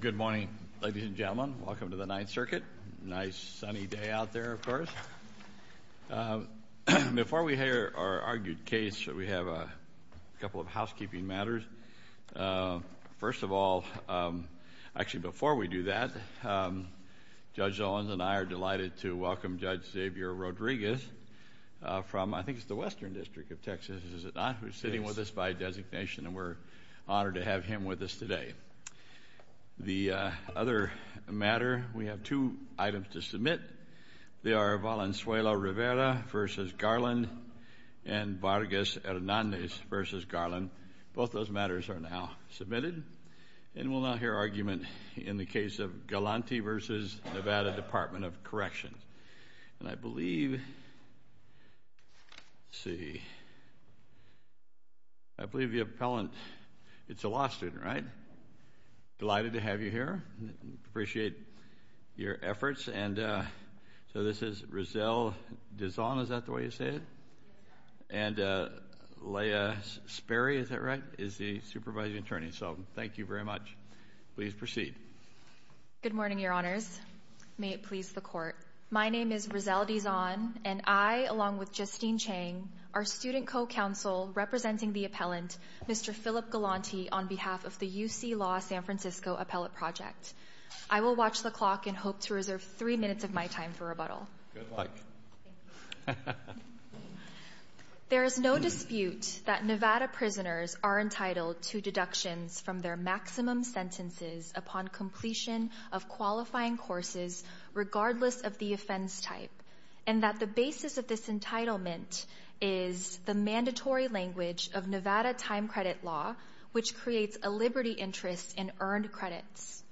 Good morning, ladies and gentlemen. Welcome to the Ninth Circuit. Nice sunny day out there, of course. Before we hear our argued case, we have a couple of housekeeping matters. First of all, actually before we do that, Judge Owens and I are delighted to welcome Judge Xavier Rodriguez from, I think it's the Western District of Texas, is it not? He's sitting with us by designation, and we're honored to have him with us today. The other matter, we have two items to submit. They are Valenzuela Rivera v. Garland and Vargas Hernandez v. Garland. Both those matters are now submitted, and we'll now hear argument in the case of Galanti v. Nevada Department of Corrections. And I believe, let's see, I believe the appellant, it's a law student, right? Delighted to have you here. Appreciate your efforts. And so this is Rizal Dazon, is that the way you say it? And Leah Sperry, is that right, is the supervising attorney. So thank you very much. Please proceed. Good morning, your honors. May it please the court. My name is Rizal Dazon, and I, along with Justine Chang, our student co-counsel representing the appellant, Mr. Philip Galanti, on behalf of the UC Law San Francisco Appellate Project. I will watch the clock and hope to reserve three minutes of my time for rebuttal. Good luck. There is no dispute that Nevada prisoners are entitled to deductions from their maximum sentences upon completion of qualifying courses regardless of the offense type, and that the basis of this entitlement is the mandatory language of Nevada time credit law, which creates a liberty interest in earned credits.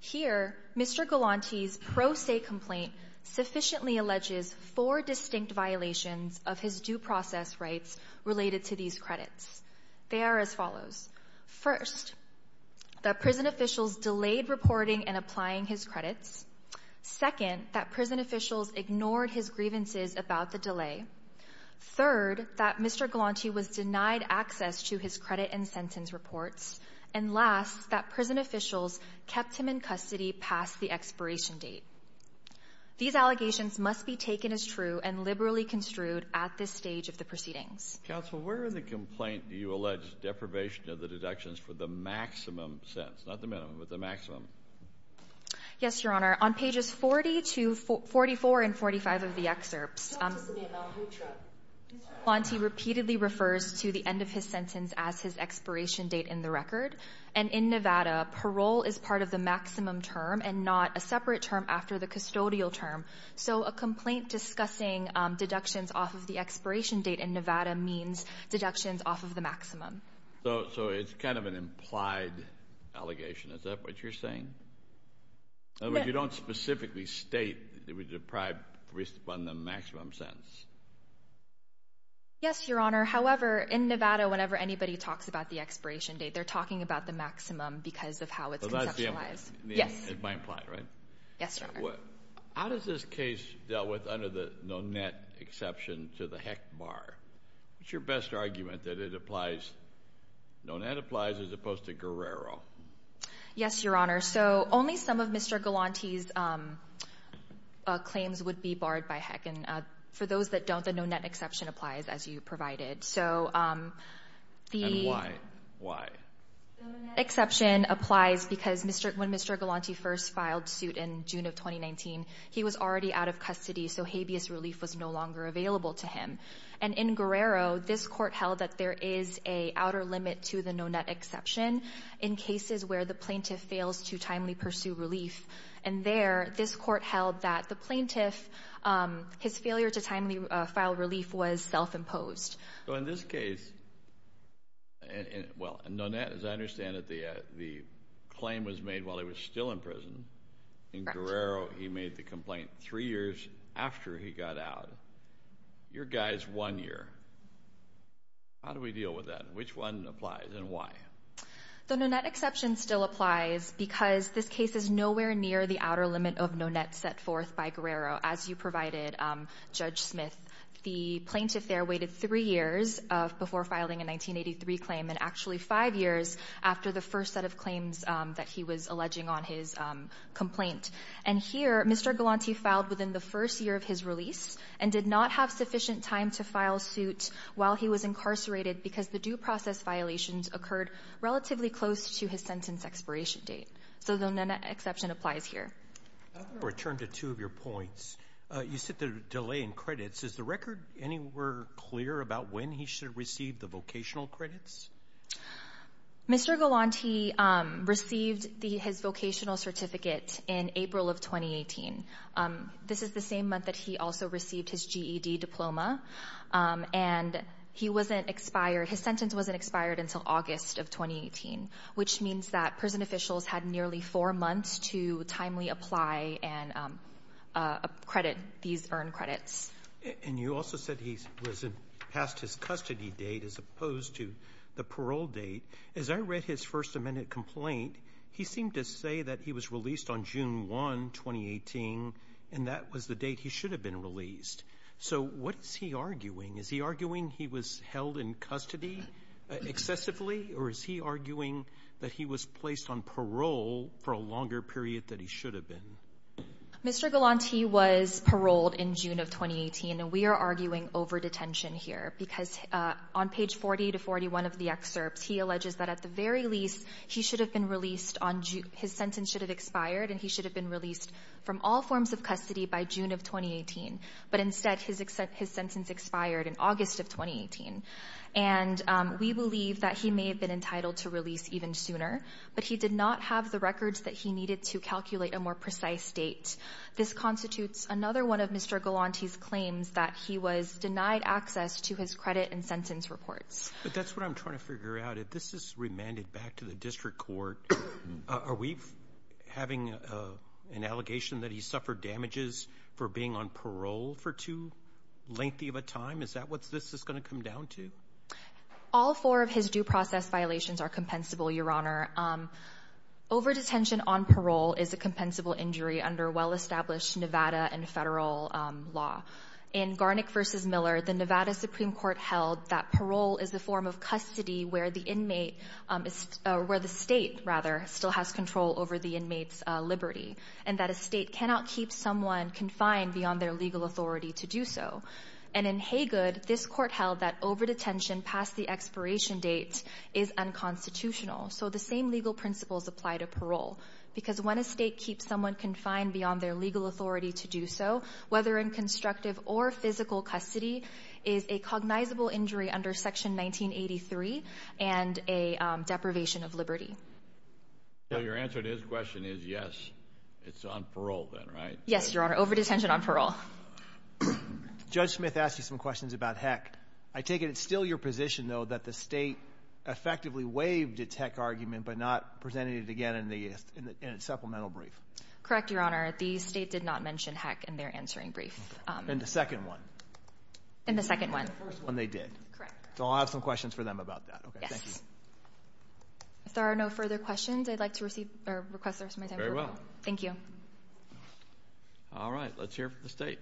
Here, Mr. Galanti's pro se complaint sufficiently alleges four distinct violations of his due process rights related to these credits. They are as follows. First, that prison officials delayed reporting and applying his credits. Second, that prison officials ignored his grievances about the delay. Third, that Mr. Galanti was denied access to his credit and sentence reports. And last, that prison officials kept him in custody past the expiration date. These allegations must be taken as true and liberally construed at this stage of the proceedings. Counsel, where in the complaint do you allege deprivation of the deductions for the maximum sentence? Not the minimum, but the maximum. Yes, Your Honor. On pages 40 to 44 and 45 of the excerpts, Mr. Galanti repeatedly refers to the end of his sentence as his expiration date in the record. And in Nevada, parole is part of the maximum term and not a separate term after the custodial term. So a complaint discussing deductions off of the expiration date in Nevada means deductions off of the maximum. So it's kind of an implied allegation. Is that what you're saying? In other words, you don't specifically state that he was deprived based upon the maximum sentence. Yes, Your Honor. However, in Nevada, whenever anybody talks about the expiration date, they're talking about the maximum because of how it's conceptualized. Yes. Am I implied, right? Yes, Your Honor. How does this case deal with under the Nonet exception to the Heck bar? What's your best argument that it applies, Nonet applies as opposed to Guerrero? Yes, Your Honor. So only some of Mr. Galanti's claims would be barred by Heck. And for those that don't, the Nonet exception applies as you provided. And why? The exception applies because when Mr. Galanti first filed suit in June of 2019, he was already out of custody, so habeas relief was no longer available to him. And in Guerrero, this court held that there is an outer limit to the Nonet exception in cases where the plaintiff fails to timely pursue relief. And there, this court held that the plaintiff, his failure to timely file relief was self-imposed. So in this case, well, Nonet, as I understand it, the claim was made while he was still in prison. In Guerrero, he made the complaint three years after he got out. Your guy is one year. How do we deal with that? Which one applies and why? The Nonet exception still applies because this case is nowhere near the outer limit of Nonet set forth by Guerrero as you provided, Judge Smith. The plaintiff there waited three years before filing a 1983 claim and actually five years after the first set of claims that he was alleging on his complaint. And here, Mr. Galanti filed within the first year of his release and did not have sufficient time to file suit while he was incarcerated because the due process violations occurred relatively close to his sentence expiration date. So the Nonet exception applies here. I want to return to two of your points. You said the delay in credits. Is the record anywhere clear about when he should receive the vocational credits? Mr. Galanti received his vocational certificate in April of 2018. This is the same month that he also received his GED diploma. And he wasn't expired. His sentence wasn't expired until August of 2018, which means that prison officials had nearly four months to timely apply and credit these earned credits. And you also said he was past his custody date as opposed to the parole date. As I read his First Amendment complaint, he seemed to say that he was released on June 1, 2018, and that was the date he should have been released. So what is he arguing? Is he arguing he was held in custody excessively, or is he arguing that he was placed on parole for a longer period than he should have been? Mr. Galanti was paroled in June of 2018, and we are arguing over-detention here because on page 40 to 41 of the excerpts, he alleges that at the very least, he should have been released on June – his sentence should have expired, and he should have been released from all forms of custody by June of 2018. But instead, his sentence expired in August of 2018. And we believe that he may have been entitled to release even sooner, but he did not have the records that he needed to calculate a more precise date. This constitutes another one of Mr. Galanti's claims that he was denied access to his credit and sentence reports. But that's what I'm trying to figure out. If this is remanded back to the district court, are we having an allegation that he suffered damages for being on parole for too lengthy of a time? Is that what this is going to come down to? All four of his due process violations are compensable, Your Honor. Over-detention on parole is a compensable injury under well-established Nevada and federal law. In Garnick v. Miller, the Nevada Supreme Court held that parole is the form of custody where the state still has control over the inmate's liberty and that a state cannot keep someone confined beyond their legal authority to do so. And in Haygood, this court held that over-detention past the expiration date is unconstitutional, so the same legal principles apply to parole because when a state keeps someone confined beyond their legal authority to do so, whether in constructive or physical custody, is a cognizable injury under Section 1983 and a deprivation of liberty. So your answer to his question is yes, it's on parole then, right? Yes, Your Honor, over-detention on parole. Judge Smith asked you some questions about heck. I take it it's still your position, though, that the state effectively waived its heck argument but not presented it again in its supplemental brief. Correct, Your Honor. The state did not mention heck in their answering brief. In the second one? In the second one. In the first one they did. Correct. So I'll have some questions for them about that. Yes. Thank you. If there are no further questions, I'd like to request there be some time for a vote. Very well. Thank you. All right. Let's hear from the state.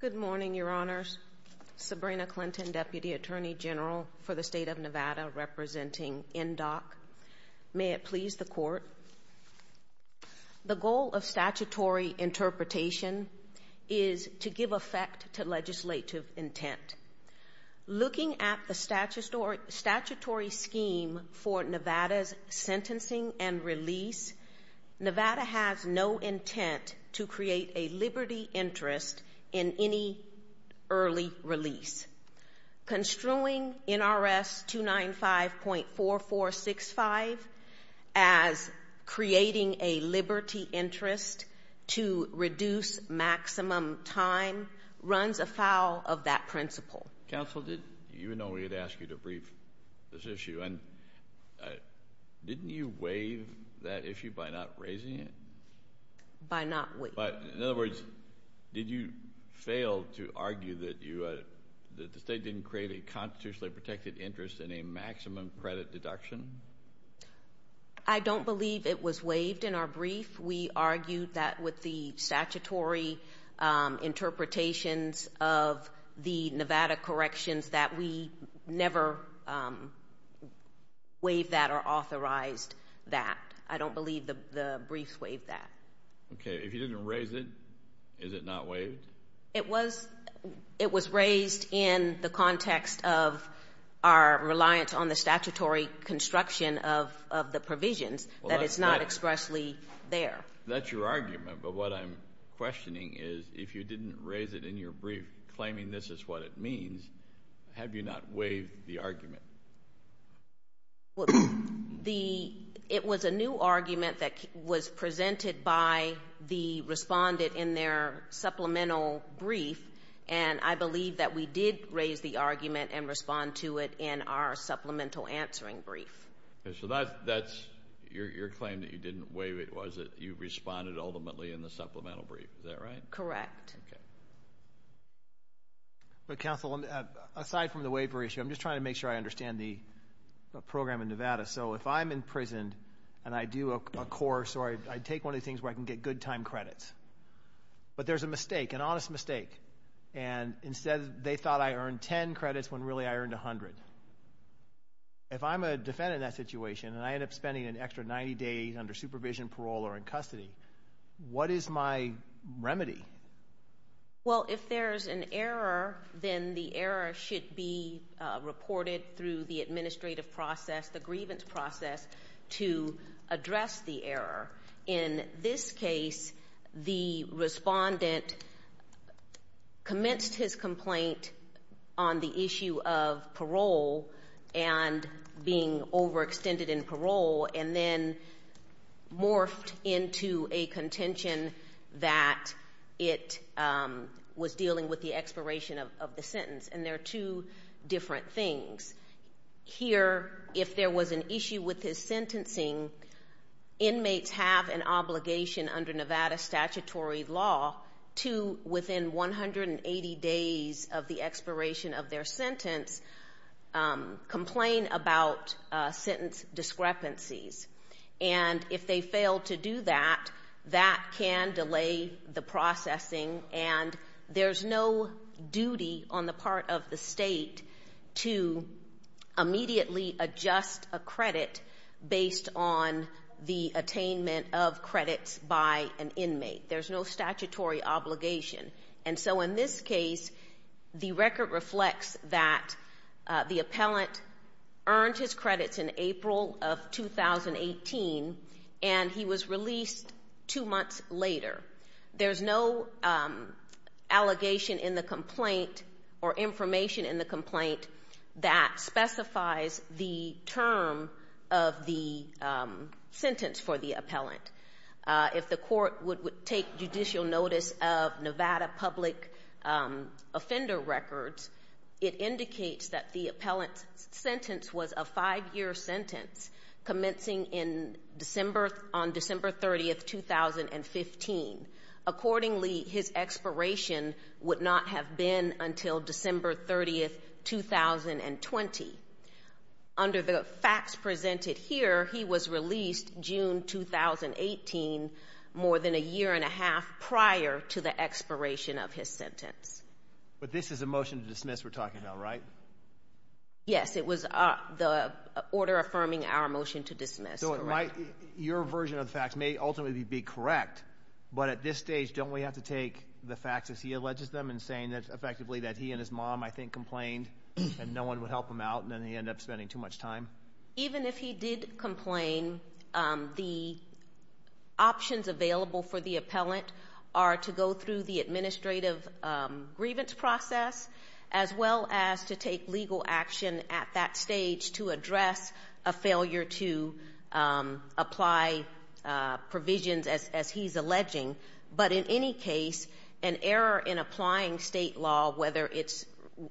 Good morning, Your Honors. Sabrina Clinton, Deputy Attorney General for the State of Nevada, representing NDOC. May it please the Court. The goal of statutory interpretation is to give effect to legislative intent. Looking at the statutory scheme for Nevada's sentencing and release, Nevada has no intent to create a liberty interest in any early release. Construing NRS 295.4465 as creating a liberty interest to reduce maximum time runs afoul of that principle. Counsel, you know we had asked you to brief this issue. Didn't you waive that issue by not raising it? By not waiving it. In other words, did you fail to argue that the state didn't create a constitutionally protected interest in a maximum credit deduction? I don't believe it was waived in our brief. We argued that with the statutory interpretations of the Nevada corrections that we never waived that or authorized that. I don't believe the brief waived that. Okay. If you didn't raise it, is it not waived? It was raised in the context of our reliance on the statutory construction of the provisions that it's not expressly there. That's your argument. If you're claiming this is what it means, have you not waived the argument? It was a new argument that was presented by the respondent in their supplemental brief, and I believe that we did raise the argument and respond to it in our supplemental answering brief. So that's your claim that you didn't waive it was that you responded ultimately in the supplemental brief. Is that right? Correct. Okay. But, counsel, aside from the waiver issue, I'm just trying to make sure I understand the program in Nevada. So if I'm imprisoned and I do a course or I take one of the things where I can get good time credits, but there's a mistake, an honest mistake, and instead they thought I earned 10 credits when really I earned 100. If I'm a defendant in that situation and I end up spending an extra 90 days under Well, if there's an error, then the error should be reported through the administrative process, the grievance process, to address the error. In this case, the respondent commenced his complaint on the issue of parole and being dealing with the expiration of the sentence. And there are two different things. Here, if there was an issue with his sentencing, inmates have an obligation under Nevada statutory law to, within 180 days of the expiration of their sentence, complain about sentence discrepancies. And if they fail to do that, that can delay the processing. And there's no duty on the part of the state to immediately adjust a credit based on the attainment of credits by an inmate. There's no statutory obligation. And so in this case, the record reflects that the appellant earned his credits in April of 2018 and he was released two months later. There's no allegation in the complaint or information in the complaint that specifies the term of the sentence for the appellant. If the court would take judicial notice of Nevada public offender records, it indicates that the appellant's sentence was a five-year sentence commencing on December 30, 2015. Accordingly, his expiration would not have been until December 30, 2020. Under the facts presented here, he was released June 2018, more than a year and a half prior to the expiration of his sentence. But this is a motion to dismiss we're talking about, right? Yes, it was the order affirming our motion to dismiss. So it might, your version of the facts may ultimately be correct, but at this stage, don't we have to take the facts as he alleges them and saying that effectively that he and his mom, I think, complained and no one would help him out and then he ended up spending too much time? Even if he did complain, the options available for the appellant are to go through the grievance process as well as to take legal action at that stage to address a failure to apply provisions as he's alleging. But in any case, an error in applying state law, whether it's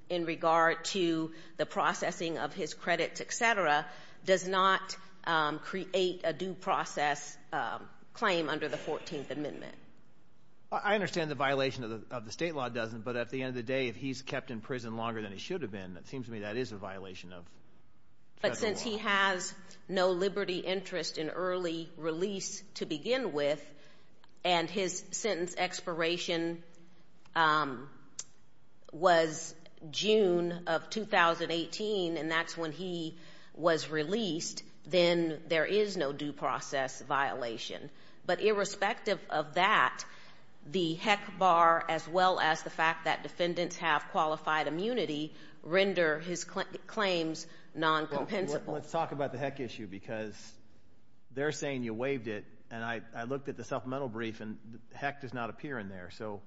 in regard to the processing of his credits, et cetera, does not create a due process claim under the 14th Amendment. I understand the violation of the state law doesn't, but at the end of the day, if he's kept in prison longer than he should have been, it seems to me that is a violation of federal law. But since he has no liberty interest in early release to begin with and his sentence expiration was June of 2018 and that's when he was released, then there is no due process violation. But irrespective of that, the HEC bar as well as the fact that defendants have qualified immunity render his claims non-compensable. Let's talk about the HEC issue because they're saying you waived it and I looked at the supplemental brief and the HEC does not appear in there. So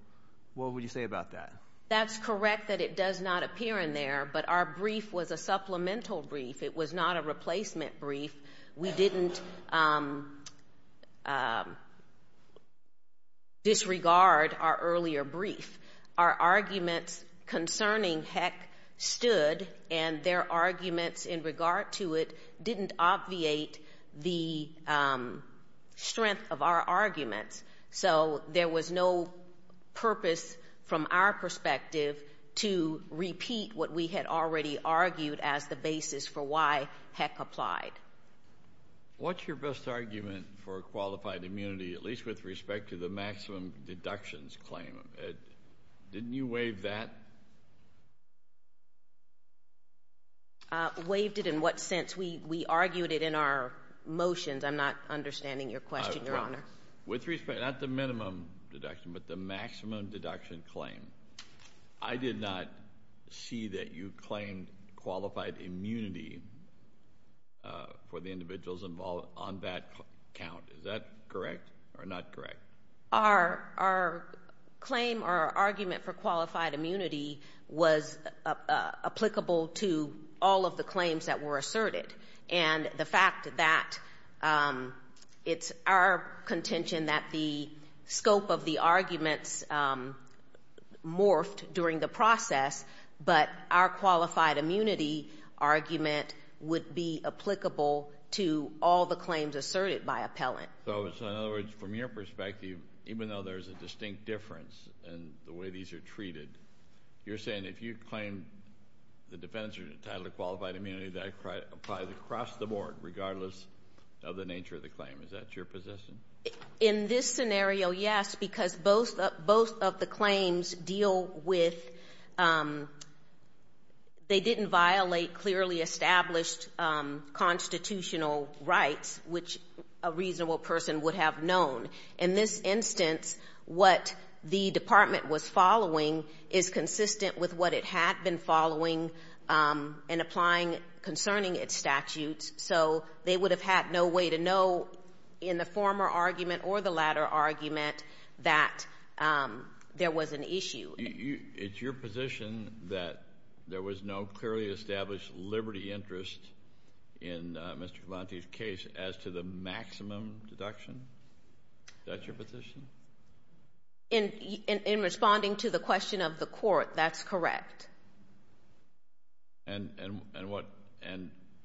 what would you say about that? That's correct that it does not appear in there, but our brief was a supplemental brief. It was not a replacement brief. We didn't disregard our earlier brief. Our arguments concerning HEC stood and their arguments in regard to it didn't obviate the strength of our arguments. So there was no purpose from our perspective to repeat what we had already argued as the What's your best argument for qualified immunity, at least with respect to the maximum deductions claim? Didn't you waive that? Waived it in what sense? We argued it in our motions. I'm not understanding your question, Your Honor. With respect, not the minimum deduction, but the maximum deduction claim, I did not see that you claimed qualified immunity for the individuals involved on that count. Is that correct or not correct? Our claim or our argument for qualified immunity was applicable to all of the claims that were asserted, and the fact that it's our contention that the scope of the arguments morphed during the process, but our qualified immunity argument would be applicable to all the claims asserted by appellant. So in other words, from your perspective, even though there's a distinct difference in the way these are treated, you're saying if you claim the defendants are entitled to qualified immunity, that applies across the board, regardless of the nature of the claim. Is that your position? In this scenario, yes, because both of the claims deal with they didn't violate clearly established constitutional rights, which a reasonable person would have known. In this instance, what the department was following is consistent with what it had been following and applying concerning its statutes. So they would have had no way to know in the former argument or the latter argument that there was an issue. It's your position that there was no clearly established liberty interest in Mr. Galante's case as to the maximum deduction? Is that your position? In responding to the question of the court, that's correct. And do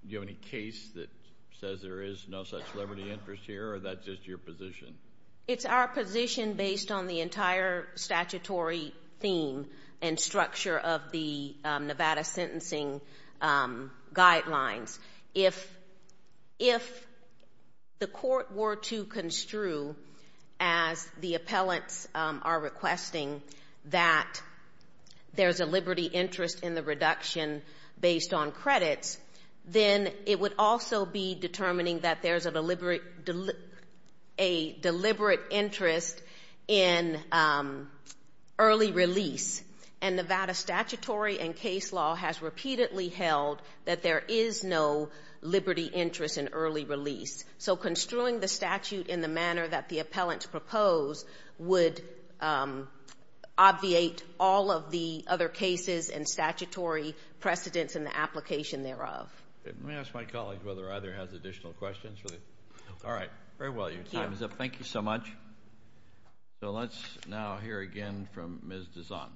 you have any case that says there is no such liberty interest here, or that's just your position? It's our position based on the entire statutory theme and structure of the Nevada sentencing guidelines. If the court were to construe, as the appellants are requesting, that there's a liberty interest in the reduction based on credits, then it would also be determining that there's a deliberate interest in early release. And Nevada statutory and case law has repeatedly held that there is no liberty interest in early release. So construing the statute in the manner that the appellants propose would obviate all of the other cases and statutory precedents in the application thereof. Let me ask my colleague whether either has additional questions. All right. Very well. Your time is up. Thank you so much. So let's now hear again from Ms. Dazon.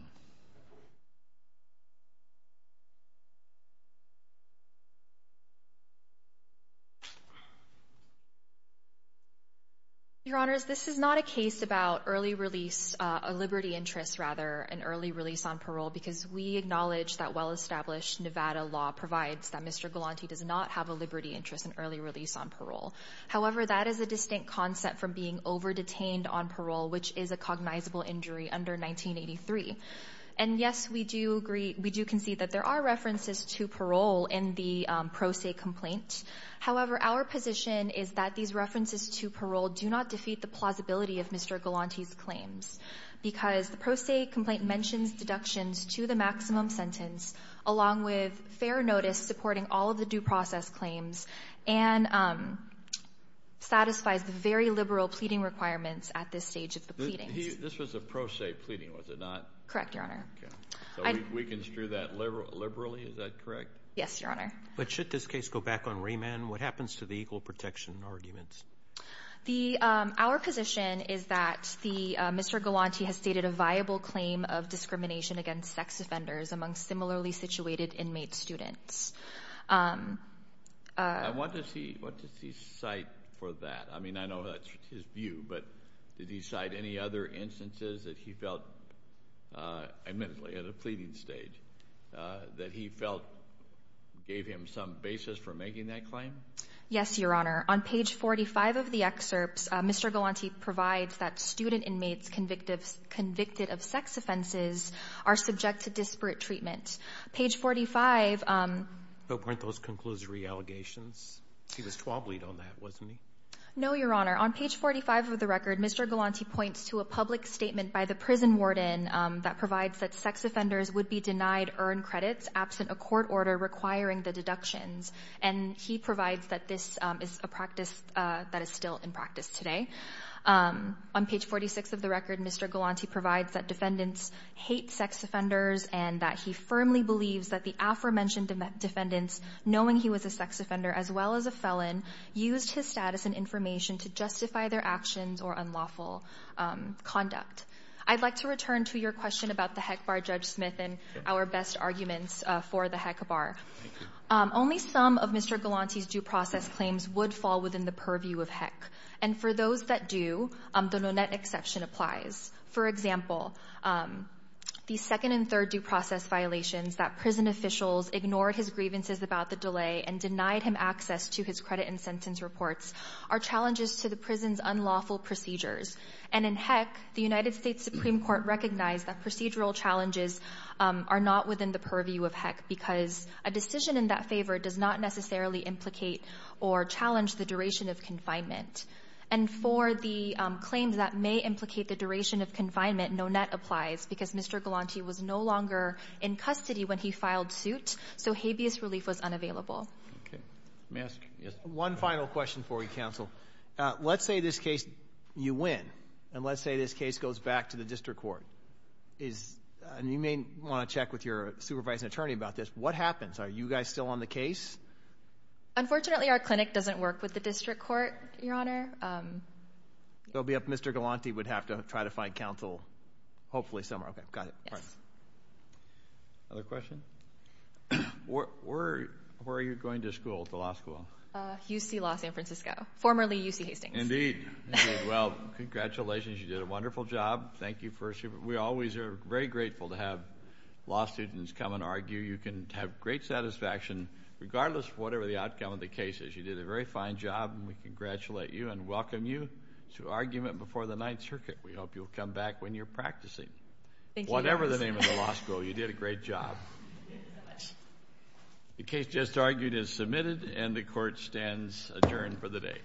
Your Honors, this is not a case about early release, a liberty interest rather, an early release on parole, because we acknowledge that well-established Nevada law provides that Mr. Galante does not have a liberty interest in early release on parole. However, that is a distinct concept from being over-detained on parole, which is a cognizable injury under 1983. And, yes, we do agree, we do concede that there are references to parole in the pro se complaint. However, our position is that these references to parole do not defeat the plausibility of Mr. Galante's claims, because the pro se complaint mentions deductions to the maximum satisfies the very liberal pleading requirements at this stage of the pleadings. This was a pro se pleading, was it not? Correct, Your Honor. So we construe that liberally, is that correct? Yes, Your Honor. But should this case go back on remand? What happens to the equal protection arguments? Our position is that Mr. Galante has stated a viable claim of discrimination against sex offenders among similarly situated inmate students. And what does he cite for that? I mean, I know that's his view, but did he cite any other instances that he felt, admittedly, at a pleading stage, that he felt gave him some basis for making that claim? Yes, Your Honor. On page 45 of the excerpts, Mr. Galante provides that student inmates convicted of sex offenses are subject to disparate treatment. Page 45. But weren't those conclusory allegations? He was 12 lead on that, wasn't he? No, Your Honor. On page 45 of the record, Mr. Galante points to a public statement by the prison warden that provides that sex offenders would be denied earned credits absent a court order requiring the deductions. And he provides that this is a practice that is still in practice today. On page 46 of the record, Mr. Galante provides that defendants hate sex offenders and that he firmly believes that the aforementioned defendants, knowing he was a sex offender as well as a felon, used his status and information to justify their actions or unlawful conduct. I'd like to return to your question about the Heck Bar, Judge Smith, and our best arguments for the Heck Bar. Thank you. Only some of Mr. Galante's due process claims would fall within the purview of Heck. And for those that do, the Nonet exception applies. For example, the second and third due process violations that prison officials ignored his grievances about the delay and denied him access to his credit and sentence reports are challenges to the prison's unlawful procedures. And in Heck, the United States Supreme Court recognized that procedural challenges are not within the purview of Heck because a decision in that favor does not necessarily implicate or challenge the duration of confinement. And for the claims that may implicate the duration of confinement, Nonet applies because Mr. Galante was no longer in custody when he filed suit, so habeas relief was unavailable. One final question for you, counsel. Let's say this case you win, and let's say this case goes back to the district court. You may want to check with your supervising attorney about this. What happens? Are you guys still on the case? Unfortunately, our clinic doesn't work with the district court, Your Honor. So Mr. Galante would have to try to find counsel, hopefully, somewhere. Okay. Got it. Yes. Another question? Where are you going to school, to law school? UC Los Angeles. Formerly UC Hastings. Indeed. Indeed. Well, congratulations. You did a wonderful job. Thank you. We always are very grateful to have law students come and argue. You can have great satisfaction regardless of whatever the outcome of the case is. You did a very fine job, and we congratulate you and welcome you to argument before the Ninth Circuit. We hope you'll come back when you're practicing. Thank you, Your Honor. Whatever the name of the law school, you did a great job. The case just argued is submitted, and the Court stands adjourned for the day.